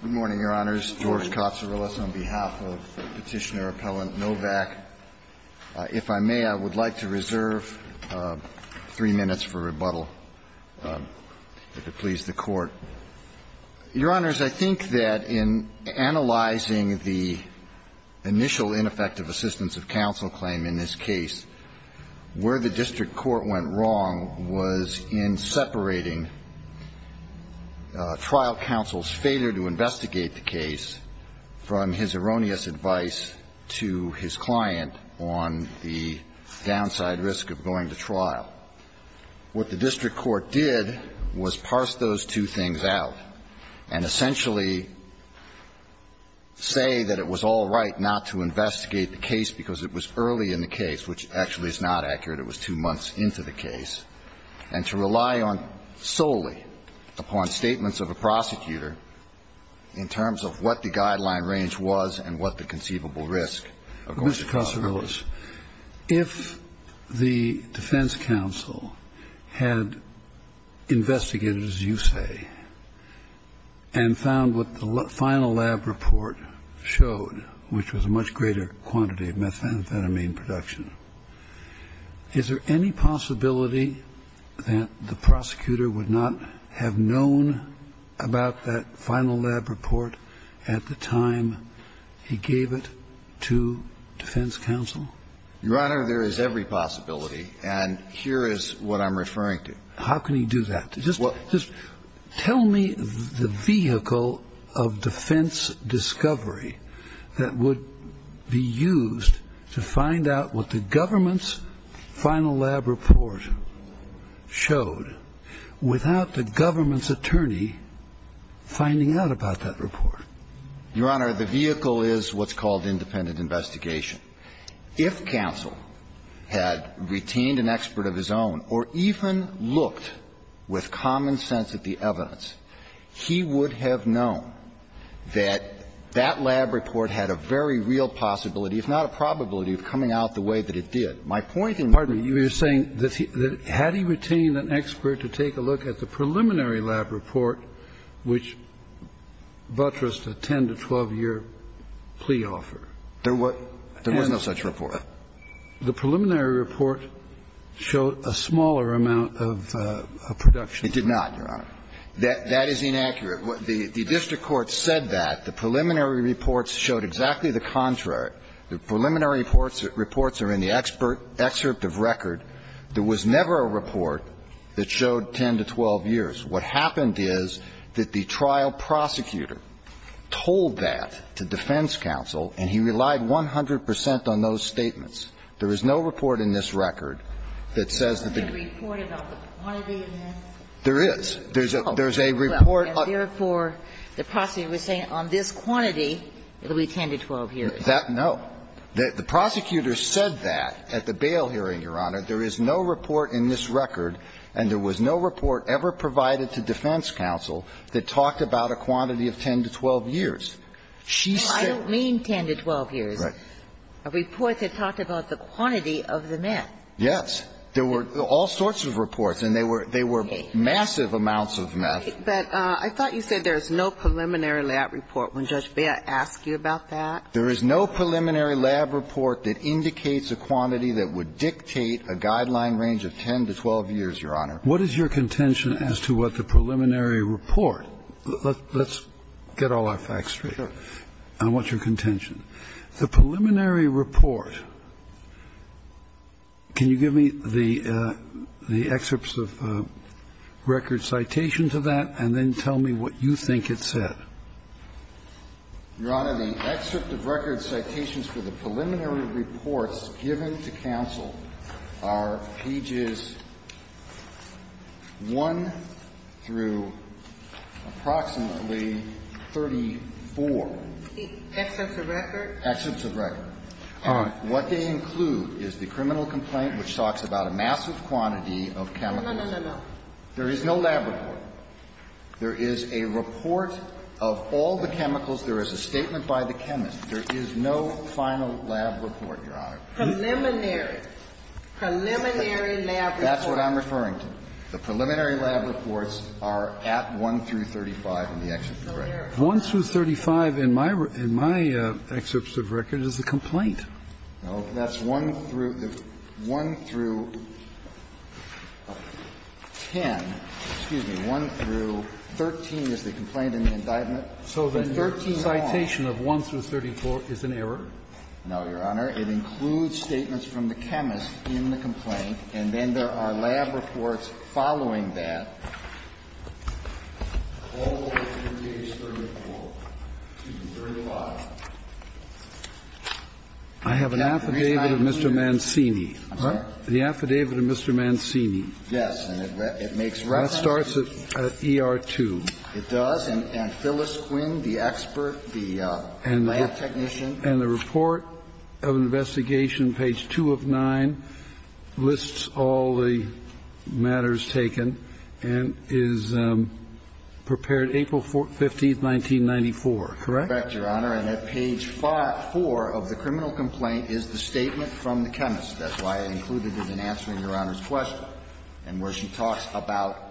Good morning, Your Honors. George Katsourilas on behalf of Petitioner-Appellant Novak. If I may, I would like to reserve three minutes for rebuttal, if it pleases the Court. Your Honors, I think that in analyzing the initial ineffective assistance of counsel claim in this case, where the district court went wrong was in separating trial counsel's failure to investigate the case from his erroneous advice to his client on the downside risk of going to trial. What the district court did was parse those two things out and essentially say that it was all right not to investigate the case because it was early in the case, which actually is not accurate. It was two months into the case, and to rely on solely upon statements of a prosecutor in terms of what the guideline range was and what the conceivable risk of going to trial was. If the defense counsel had investigated, as you say, and found what the final lab report showed, which was a much greater quantity of methamphetamine production, is there any possibility that the prosecutor would not have known about that final lab report at the time he gave it to defense counsel? Your Honor, there is every possibility, and here is what I'm referring to. How can he do that? Just tell me the vehicle of defense discovery that would be used to find out what the government's final lab report showed without the government's attorney finding out about that report. Your Honor, the vehicle is what's called independent investigation. If counsel had retained an expert of his own or even looked with common sense at the evidence, he would have known that that lab report had a very real possibility, if not a probability, of coming out the way that it did. My point in this case is that the preliminary lab report which buttressed a 10 to 12-year plea offer. There was no such report. The preliminary report showed a smaller amount of production. It did not, Your Honor. That is inaccurate. The district court said that. The preliminary reports showed exactly the contrary. The preliminary reports are in the excerpt of record. There was never a report that showed 10 to 12 years. What happened is that the trial prosecutor told that to defense counsel, and he relied 100 percent on those statements. There is no report in this record that says that the group of people who were in the trial had 10 to 12 years. There is. There's a report on this quantity that would be 10 to 12 years. That, no. The prosecutor said that at the bail hearing, Your Honor. There is no report in this record, and there was no report ever provided to defense counsel that talked about a quantity of 10 to 12 years. She said. I don't mean 10 to 12 years. Right. A report that talked about the quantity of the meth. Yes. There were all sorts of reports, and they were massive amounts of meth. But I thought you said there is no preliminary lab report. Would Judge Baer ask you about that? There is no preliminary lab report that indicates a quantity that would dictate a guideline range of 10 to 12 years, Your Honor. What is your contention as to what the preliminary report let's get all our facts straight. I want your contention. The preliminary report, can you give me the excerpts of record citations of that and then tell me what you think it said? Your Honor, the excerpt of record citations for the preliminary reports given to counsel are pages 1 through approximately 34. Excerpts of record? Excerpts of record. All right. What they include is the criminal complaint, which talks about a massive quantity of chemicals. No, no, no, no, no. There is no lab report. There is a report of all the chemicals. There is a statement by the chemist. There is no final lab report, Your Honor. Preliminary. Preliminary lab report. That's what I'm referring to. The preliminary lab reports are at 1 through 35 in the excerpt of record. 1 through 35 in my excerpts of record is the complaint. No, that's 1 through 10. Excuse me. 1 through 13 is the complaint in the indictment. So then your citation of 1 through 34 is an error? No, Your Honor. It includes statements from the chemist in the complaint, and then there are lab reports following that. All the way to page 34, excuse me, 35. I have an affidavit of Mr. Mancini. I'm sorry? The affidavit of Mr. Mancini. Yes, and it makes reference to ER2. It does, and Phyllis Quinn, the expert, the lab technician. And the report of investigation, page 2 of 9, lists all the matters taken and is prepared April 15, 1994, correct? Correct, Your Honor. And at page 4 of the criminal complaint is the statement from the chemist. That's why I included it in answering Your Honor's question. And where she talks about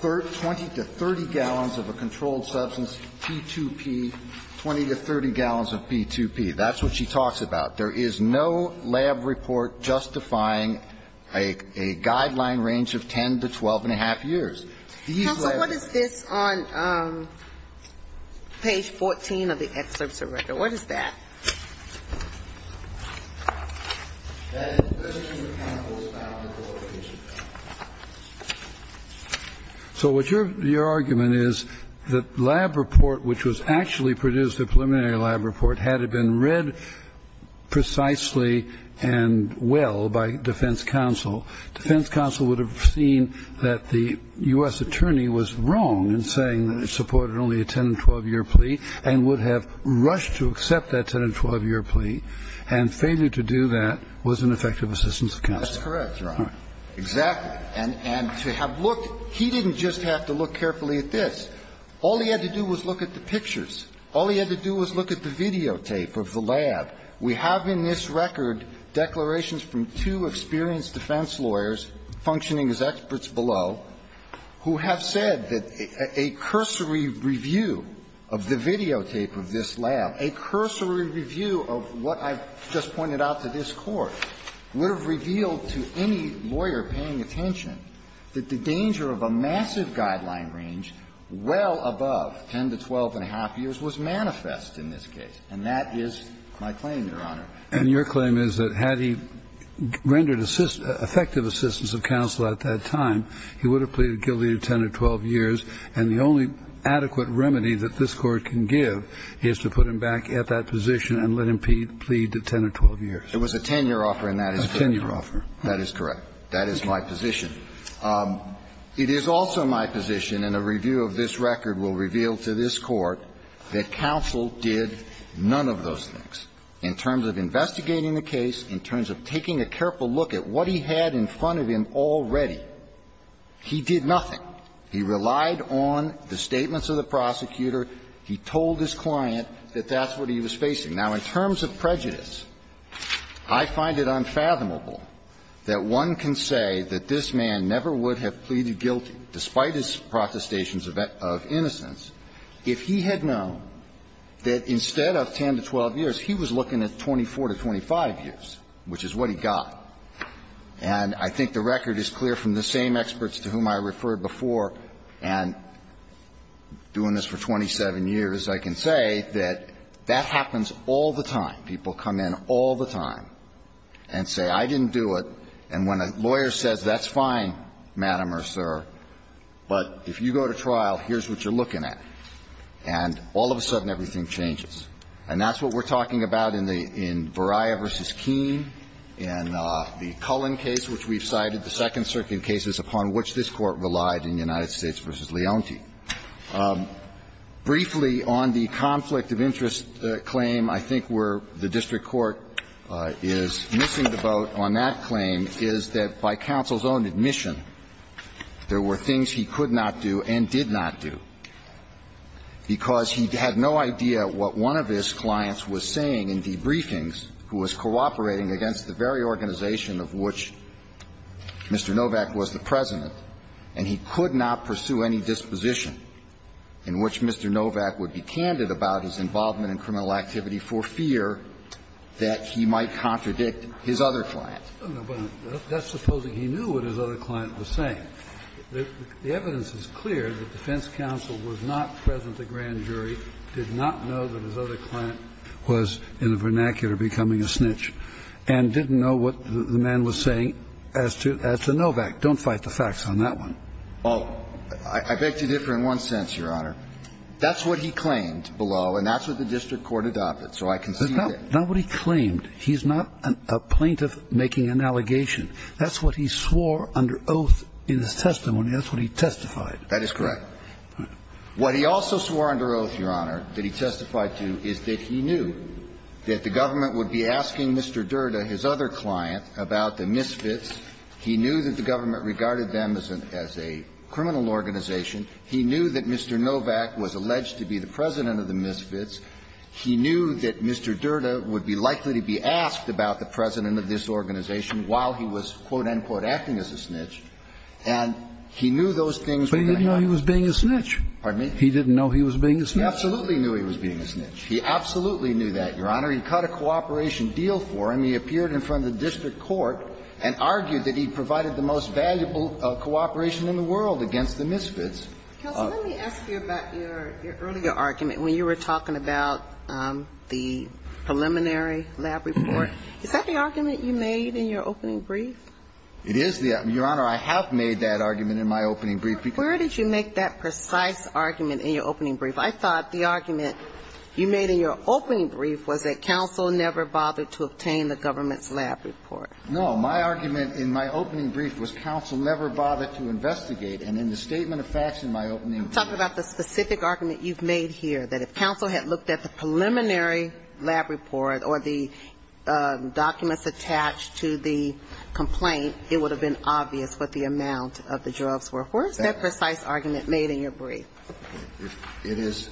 20 to 30 gallons of a controlled substance, P2P, 20 to 30 gallons of P2P. That's what she talks about. There is no lab report justifying a guideline range of 10 to 12 and a half years. These labs are the same. Counsel, what is this on page 14 of the excerpt's record? What is that? So what your argument is, the lab report, which was actually produced, the preliminary lab report, had it been read precisely and well by defense counsel. Defense counsel would have seen that the U.S. attorney was wrong in saying that it supported only a 10 and 12-year plea and would have rushed to accept that 10 and 12-year plea. And failure to do that was an effective assistance of counsel. That's correct, Your Honor. Exactly. And to have looked, he didn't just have to look carefully at this. All he had to do was look at the pictures. All he had to do was look at the videotape of the lab. We have in this record declarations from two experienced defense lawyers functioning as experts below who have said that a cursory review of the videotape of this lab, a cursory review of what I've just pointed out to this Court, would have revealed to any lawyer paying attention that the danger of a massive guideline range well above 10 to 12 and a half years was manifest in this case. And that is my claim, Your Honor. And your claim is that had he rendered effective assistance of counsel at that time, he would have pleaded guilty to 10 or 12 years, and the only adequate remedy that this Court can give is to put him back at that position and let him plead to 10 or 12 years. It was a 10-year offer, and that is correct. A 10-year offer. That is correct. That is my position. It is also my position, and a review of this record will reveal to this Court, that counsel did none of those things. In terms of investigating the case, in terms of taking a careful look at what he had in front of him already, he did nothing. He relied on the statements of the prosecutor. He told his client that that's what he was facing. Now, in terms of prejudice, I find it unfathomable that one can say that this man never would have pleaded guilty, despite his protestations of innocence, if he had known that instead of 10 to 12 years, he was looking at 24 to 25 years, which is what he got. And I think the record is clear from the same experts to whom I referred before, and doing this for 27 years, I can say that that happens all the time. People come in all the time and say, I didn't do it, and when a lawyer says, that's fine, Madam or Sir, but if you go to trial, here's what you're looking at. And all of a sudden, everything changes. And that's what we're talking about in the Varaya v. Keene, in the Cullen case, which we've cited, the Second Circuit cases upon which this Court relied in United States v. Leontief. Briefly, on the conflict of interest claim, I think where the district court is missing the boat on that claim is that by counsel's own admission, there were things he could not do and did not do. Because he had no idea what one of his clients was saying in debriefings, who was cooperating against the very organization of which Mr. Novak was the President, and he could not pursue any disposition in which Mr. Novak would be candid about his involvement in criminal activity for fear that he might contradict his other client. That's supposing he knew what his other client was saying. The evidence is clear that defense counsel was not present at grand jury, did not know that his other client was, in a vernacular, becoming a snitch, and didn't know what the man was saying as to Novak. Don't fight the facts on that one. Well, I beg to differ in one sense, Your Honor. That's what he claimed below, and that's what the district court adopted. So I concede that. That's not what he claimed. He's not a plaintiff making an allegation. That's what he swore under oath in his testimony. That's what he testified. That is correct. What he also swore under oath, Your Honor, that he testified to is that he knew that the government would be asking Mr. Durda, his other client, about the misfits. He knew that the government regarded them as a criminal organization. He knew that Mr. Novak was alleged to be the President of the misfits. He knew that Mr. Durda would be likely to be asked about the President of this organization while he was, quote, end quote, acting as a snitch, and he knew those things were going to happen. But he didn't know he was being a snitch. Pardon me? He didn't know he was being a snitch. He absolutely knew he was being a snitch. He absolutely knew that, Your Honor. He cut a cooperation deal for him. He appeared in front of the district court and argued that he provided the most valuable cooperation in the world against the misfits. Counsel, let me ask you about your earlier argument, when you were talking about the preliminary lab report. Is that the argument you made in your opening brief? It is the argument, Your Honor. I have made that argument in my opening brief. Where did you make that precise argument in your opening brief? I thought the argument you made in your opening brief was that counsel never bothered to obtain the government's lab report. No. My argument in my opening brief was counsel never bothered to investigate. And in the statement of facts in my opening brief… Talk about the specific argument you've made here, that if counsel had looked at the preliminary lab report or the documents attached to the complaint, it would have been obvious what the amount of the drugs were. Where is that precise argument made in your brief? It is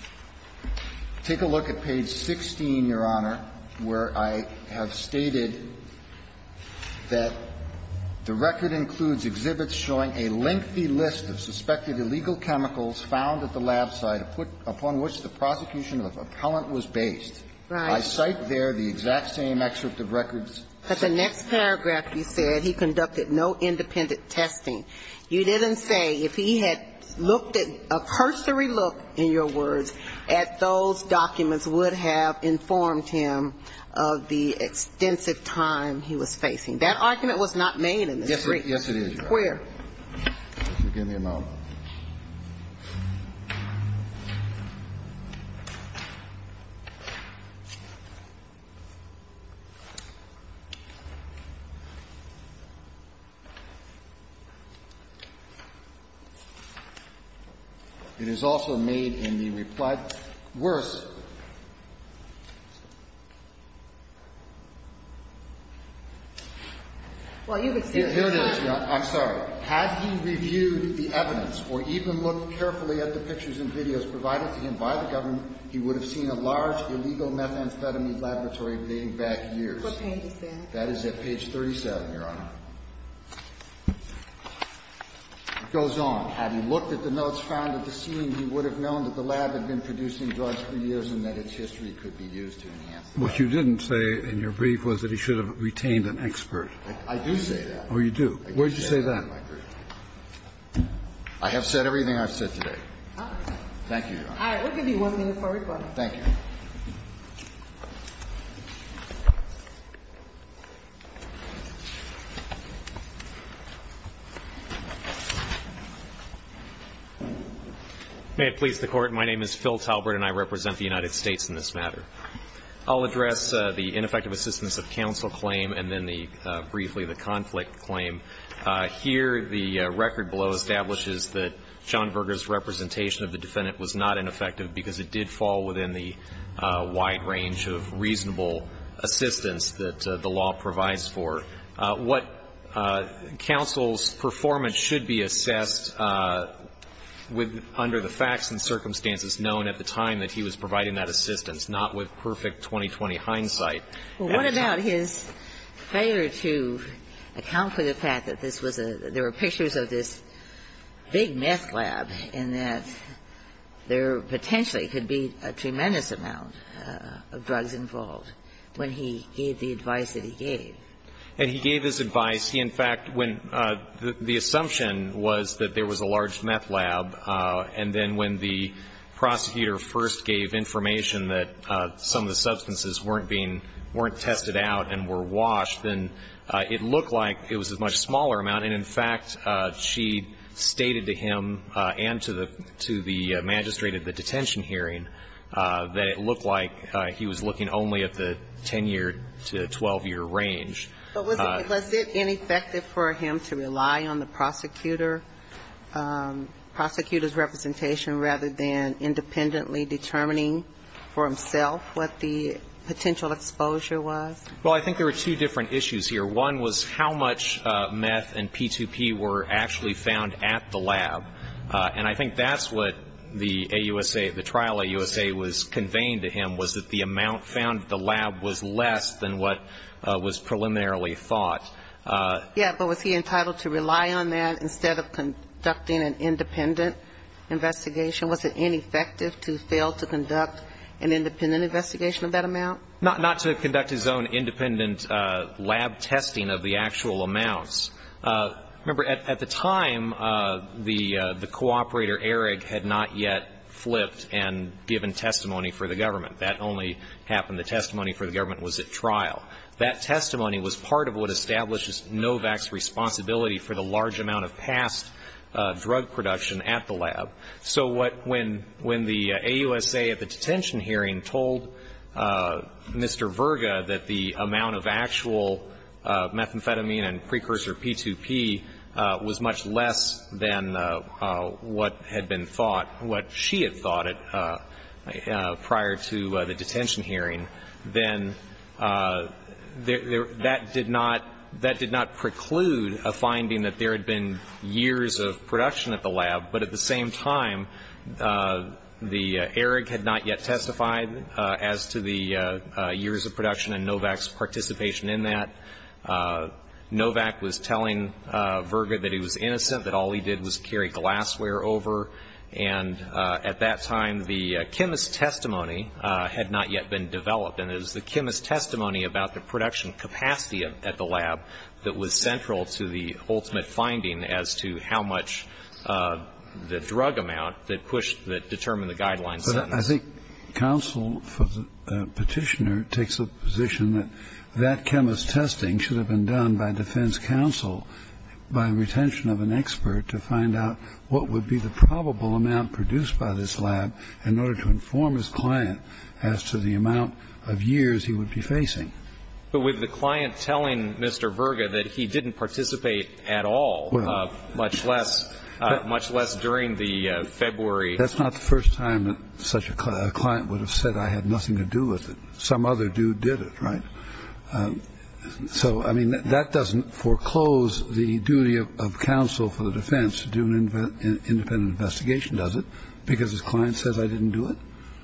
– take a look at page 16, Your Honor, where I have stated that the record includes exhibits showing a lengthy list of suspected illegal chemicals found at the lab site upon which the prosecution of the appellant was based. Right. I cite there the exact same excerpt of records. But the next paragraph you said he conducted no independent testing. You didn't say if he had looked at – a cursory look, in your words, at those documents would have informed him of the extensive time he was facing. That argument was not made in the brief. Yes, it is, Your Honor. Where? If you'll give me a moment. It is also made in the reply – worse. Well, you would say – I'm sorry. Had he reviewed the evidence or even looked carefully at the pictures and videos provided to him by the government, he would have seen a large illegal methamphetamine laboratory dating back years. What page is that? That is at page 37, Your Honor. It goes on. Had he looked at the notes found at the scene, he would have known that the lab had been What you didn't say in your brief was that he should have retained an expert. I do say that. Oh, you do. Where did you say that? I have said everything I've said today. Thank you, Your Honor. All right. We'll give you one minute for a report. Thank you. May it please the Court, my name is Phil Talbert and I represent the United States in this matter. I'll address the ineffective assistance of counsel claim and then briefly the conflict claim. Here, the record below establishes that John Berger's representation of the defendant was not ineffective because it did fall within the wide range of reasonable assistance that the law provides for. What counsel's performance should be assessed under the facts and circumstances known at the time that he was providing that assistance, not with perfect 20-20 hindsight. Well, what about his failure to account for the fact that this was a – there were potentially could be a tremendous amount of drugs involved when he gave the advice that he gave. And he gave his advice. He, in fact, when the assumption was that there was a large meth lab and then when the prosecutor first gave information that some of the substances weren't being – weren't tested out and were washed, then it looked like it was a much smaller amount. And, in fact, she stated to him and to the – to the magistrate at the detention hearing that it looked like he was looking only at the 10-year to 12-year range. But was it ineffective for him to rely on the prosecutor – prosecutor's representation rather than independently determining for himself what the potential exposure was? Well, I think there were two different issues here. One was how much meth and P2P were actually found at the lab. And I think that's what the AUSA – the trial AUSA was conveying to him was that the amount found at the lab was less than what was preliminarily thought. Yes. But was he entitled to rely on that instead of conducting an independent investigation? Was it ineffective to fail to conduct an independent investigation of that amount? Not to conduct his own independent lab testing of the actual amounts. Remember, at the time, the cooperator, Ehrig, had not yet flipped and given testimony for the government. That only happened – the testimony for the government was at trial. That testimony was part of what established Novak's responsibility for the large amount of past drug production at the lab. So what – when – when the AUSA at the detention hearing told Mr. Verga that the amount of actual methamphetamine and precursor P2P was much less than what had been thought – what she had thought prior to the detention hearing, then that did not – that did not preclude a finding that there had been years of production at the time. The – Ehrig had not yet testified as to the years of production and Novak's participation in that. Novak was telling Verga that he was innocent, that all he did was carry glassware over. And at that time, the chemist's testimony had not yet been developed. And it was the chemist's testimony about the production capacity at the lab that was central to the ultimate finding as to how much the drug amount that pushed – that determined the guideline sentence. But I think counsel for the petitioner takes a position that that chemist's testing should have been done by defense counsel by retention of an expert to find out what would be the probable amount produced by this lab in order to inform his client as to the amount of years he would be facing. But with the client telling Mr. Verga that he didn't participate at all, much less – much less during the February – That's not the first time that such a client would have said I had nothing to do with it. Some other dude did it, right? So, I mean, that doesn't foreclose the duty of counsel for the defense to do an independent investigation, does it, because his client says I didn't do it?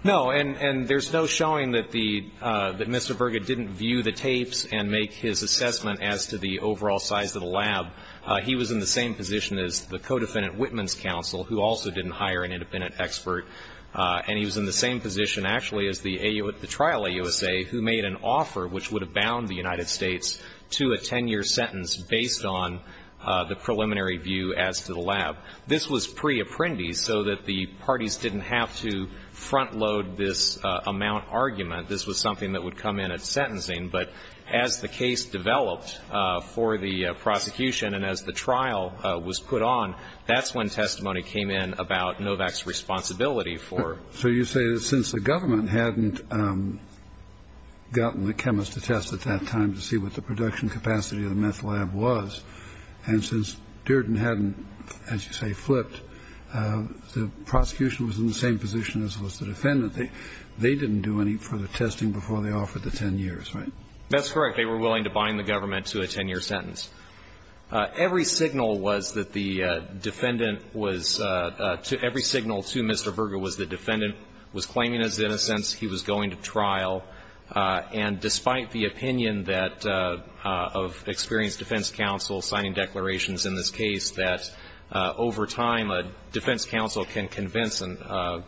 No. And there's no showing that the – that Mr. Verga didn't view the tapes and make his assessment as to the overall size of the lab. He was in the same position as the co-defendant Whitman's counsel, who also didn't hire an independent expert. And he was in the same position, actually, as the trial AUSA, who made an offer which would have bound the United States to a 10-year sentence based on the preliminary view as to the lab. This was pre-apprendi so that the parties didn't have to front load this amount argument. This was something that would come in at sentencing. But as the case developed for the prosecution and as the trial was put on, that's when testimony came in about Novak's responsibility for – So you say that since the government hadn't gotten the chemist to test at that time to see what the production capacity of the meth lab was, and since Dearden hadn't, as you say, flipped, the prosecution was in the same position as was the defendant. They didn't do any further testing before they offered the 10 years, right? That's correct. They were willing to bind the government to a 10-year sentence. Every signal was that the defendant was – every signal to Mr. Verga was the defendant was claiming his innocence, he was going to trial. And despite the opinion that – of experienced defense counsel signing declarations in this case that over time a defense counsel can convince a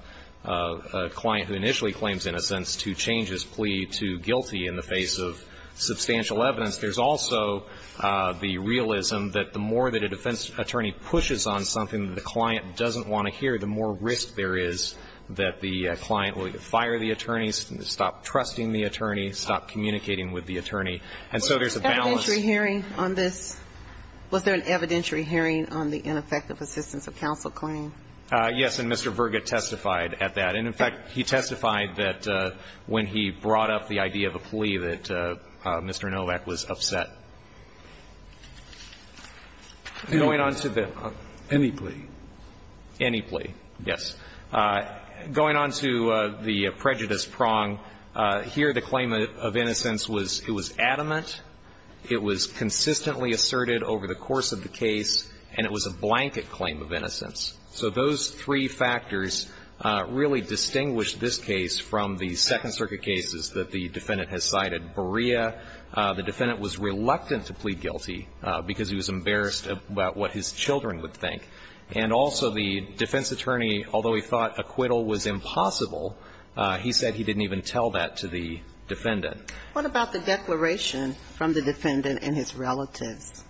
client who initially claims innocence to change his plea to guilty in the face of substantial evidence, there's also the realism that the more that a defense attorney pushes on something that the client doesn't want to hear, the more risk there is that the client will fire the attorney, stop trusting the attorney, stop communicating with the attorney. And so there's a balance. Was there an evidentiary hearing on this? Was there an evidentiary hearing on the ineffective assistance of counsel claim? Yes, and Mr. Verga testified at that. And, in fact, he testified that when he brought up the idea of a plea that Mr. Novak was upset. Going on to the – Any plea? Any plea, yes. Going on to the prejudice prong, here the claim of innocence was it was adamant. It was consistently asserted over the course of the case, and it was a blanket claim of innocence. So those three factors really distinguish this case from the Second Circuit cases that the defendant has cited. Berea, the defendant was reluctant to plead guilty because he was embarrassed about what his children would think. And also the defense attorney, although he thought acquittal was impossible, he said he didn't even tell that to the defendant. What about the declaration from the defendant and his relatives?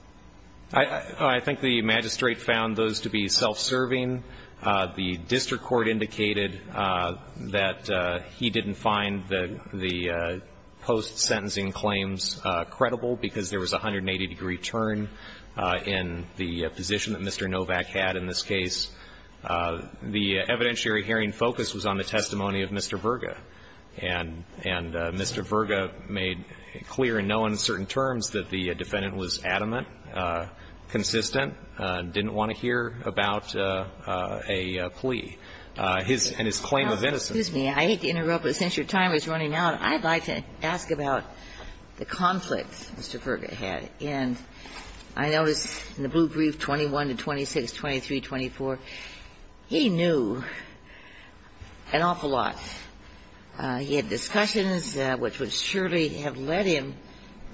I think the magistrate found those to be self-serving. The district court indicated that he didn't find the post-sentencing claims credible because there was a 180-degree turn in the position that Mr. Novak had in this case. The evidentiary hearing focus was on the testimony of Mr. Verga. And Mr. Verga made clear in no uncertain terms that the defendant was adamant, consistent, didn't want to hear about a plea. And his claim of innocence. Now, excuse me. I hate to interrupt, but since your time is running out, I'd like to ask about the conflict Mr. Verga had. And I noticed in the blue brief, 21 to 26, 23, 24, he knew an awful lot. He had discussions which would surely have led him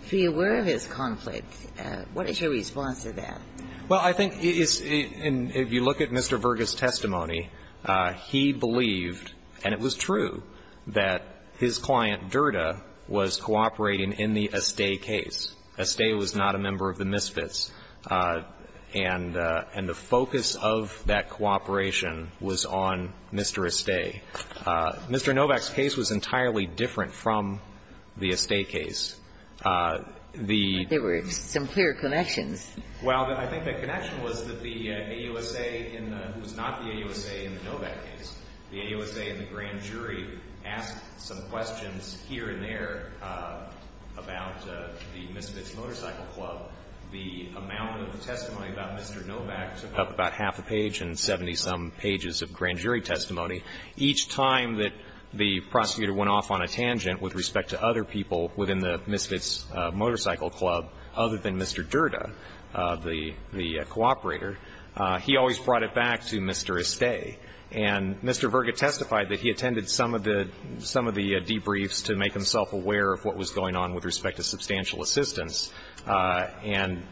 to be aware of his conflict. What is your response to that? Well, I think it's and if you look at Mr. Verga's testimony, he believed, and it was true, that his client, Derda, was cooperating in the Estate case. Estate was not a member of the misfits. And the focus of that cooperation was on Mr. Estate. Mr. Novak's case was entirely different from the Estate case. The ---- But there were some clear connections. Well, I think the connection was that the AUSA, who was not the AUSA in the Novak case, the AUSA and the grand jury asked some questions here and there about the Misfits Motorcycle Club. The amount of testimony about Mr. Novak took up about half a page and 70-some pages of grand jury testimony. Each time that the prosecutor went off on a tangent with respect to other people within the Misfits Motorcycle Club other than Mr. Derda, the cooperator, he always brought it back to Mr. Estate. And Mr. Verga testified that he attended some of the debriefs to make himself aware of what was going on with respect to substantial assistance. And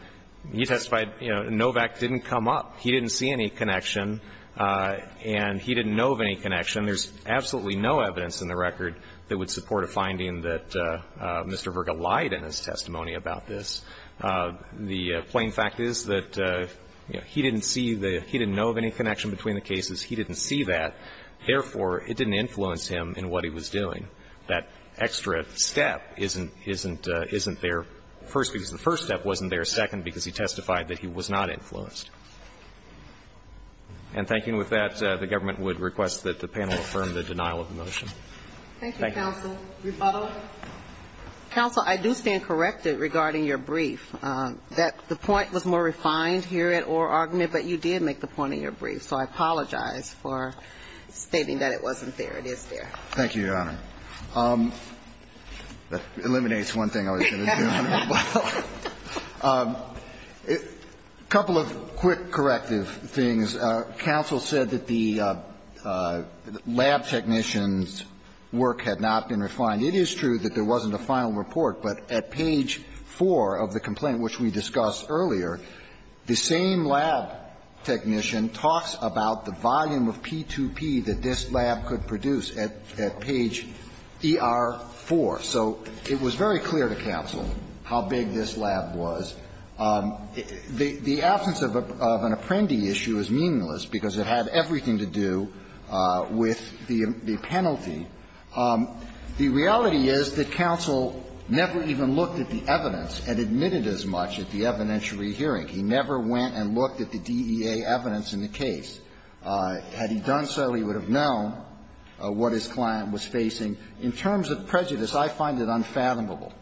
he testified, you know, Novak didn't come up. He didn't see any connection, and he didn't know of any connection. There's absolutely no evidence in the record that would support a finding that Mr. Verga lied in his testimony about this. The plain fact is that he didn't see the ---- he didn't know of any connection between the cases. He didn't see that. Therefore, it didn't influence him in what he was doing. That extra step isn't there first because the first step wasn't there second because he testified that he was not influenced. And thinking with that, the government would request that the panel affirm the denial of the motion. Thank you. Thank you, counsel. Rebuttal. Counsel, I do stand corrected regarding your brief, that the point was more refined I didn't hear it or argument, but you did make the point of your brief. So I apologize for stating that it wasn't there. It is there. Thank you, Your Honor. That eliminates one thing I was going to do. A couple of quick corrective things. Counsel said that the lab technician's work had not been refined. It is true that there wasn't a final report, but at page 4 of the complaint, which we discussed earlier, the same lab technician talks about the volume of P2P that this lab could produce at page ER4. So it was very clear to counsel how big this lab was. The absence of an apprendi issue is meaningless because it had everything to do with the penalty. The reality is that counsel never even looked at the evidence and admitted as much at the evidentiary hearing. He never went and looked at the DEA evidence in the case. Had he done so, he would have known what his client was facing. In terms of prejudice, I find it unfathomable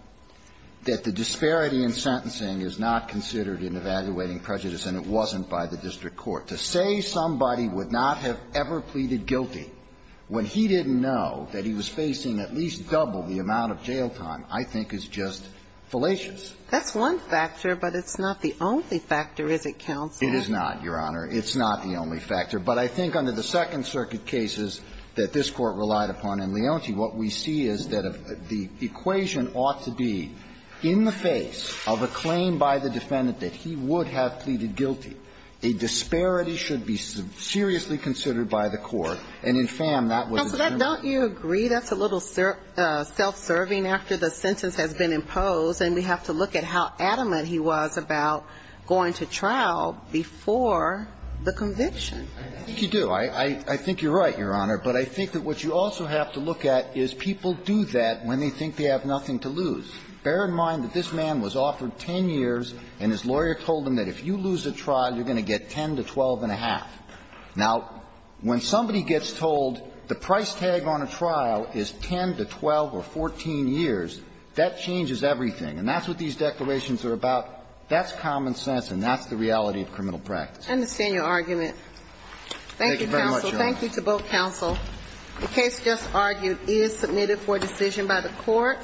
that the disparity in sentencing is not considered in evaluating prejudice, and it wasn't by the district court. To say somebody would not have ever pleaded guilty when he didn't know that he was facing at least double the amount of jail time, I think is just fallacious. That's one factor, but it's not the only factor, is it, counsel? It is not, Your Honor. It's not the only factor. But I think under the Second Circuit cases that this Court relied upon in Leonti, what we see is that the equation ought to be in the face of a claim by the defendant that he would have pleaded guilty. A disparity should be seriously considered by the court. And in Pham, that was his view. Don't you agree that's a little self-serving after the sentence has been imposed, and we have to look at how adamant he was about going to trial before the conviction? I think you do. I think you're right, Your Honor. But I think that what you also have to look at is people do that when they think they have nothing to lose. Bear in mind that this man was offered 10 years, and his lawyer told him that if you lose a trial, you're going to get 10 to 12 and a half. Now, when somebody gets told the price tag on a trial is 10 to 12 or 14 years, that changes everything. And that's what these declarations are about. That's common sense, and that's the reality of criminal practice. I understand your argument. Thank you, counsel. Thank you very much, Your Honor. Thank you to both counsel. The case just argued is submitted for decision by the Court.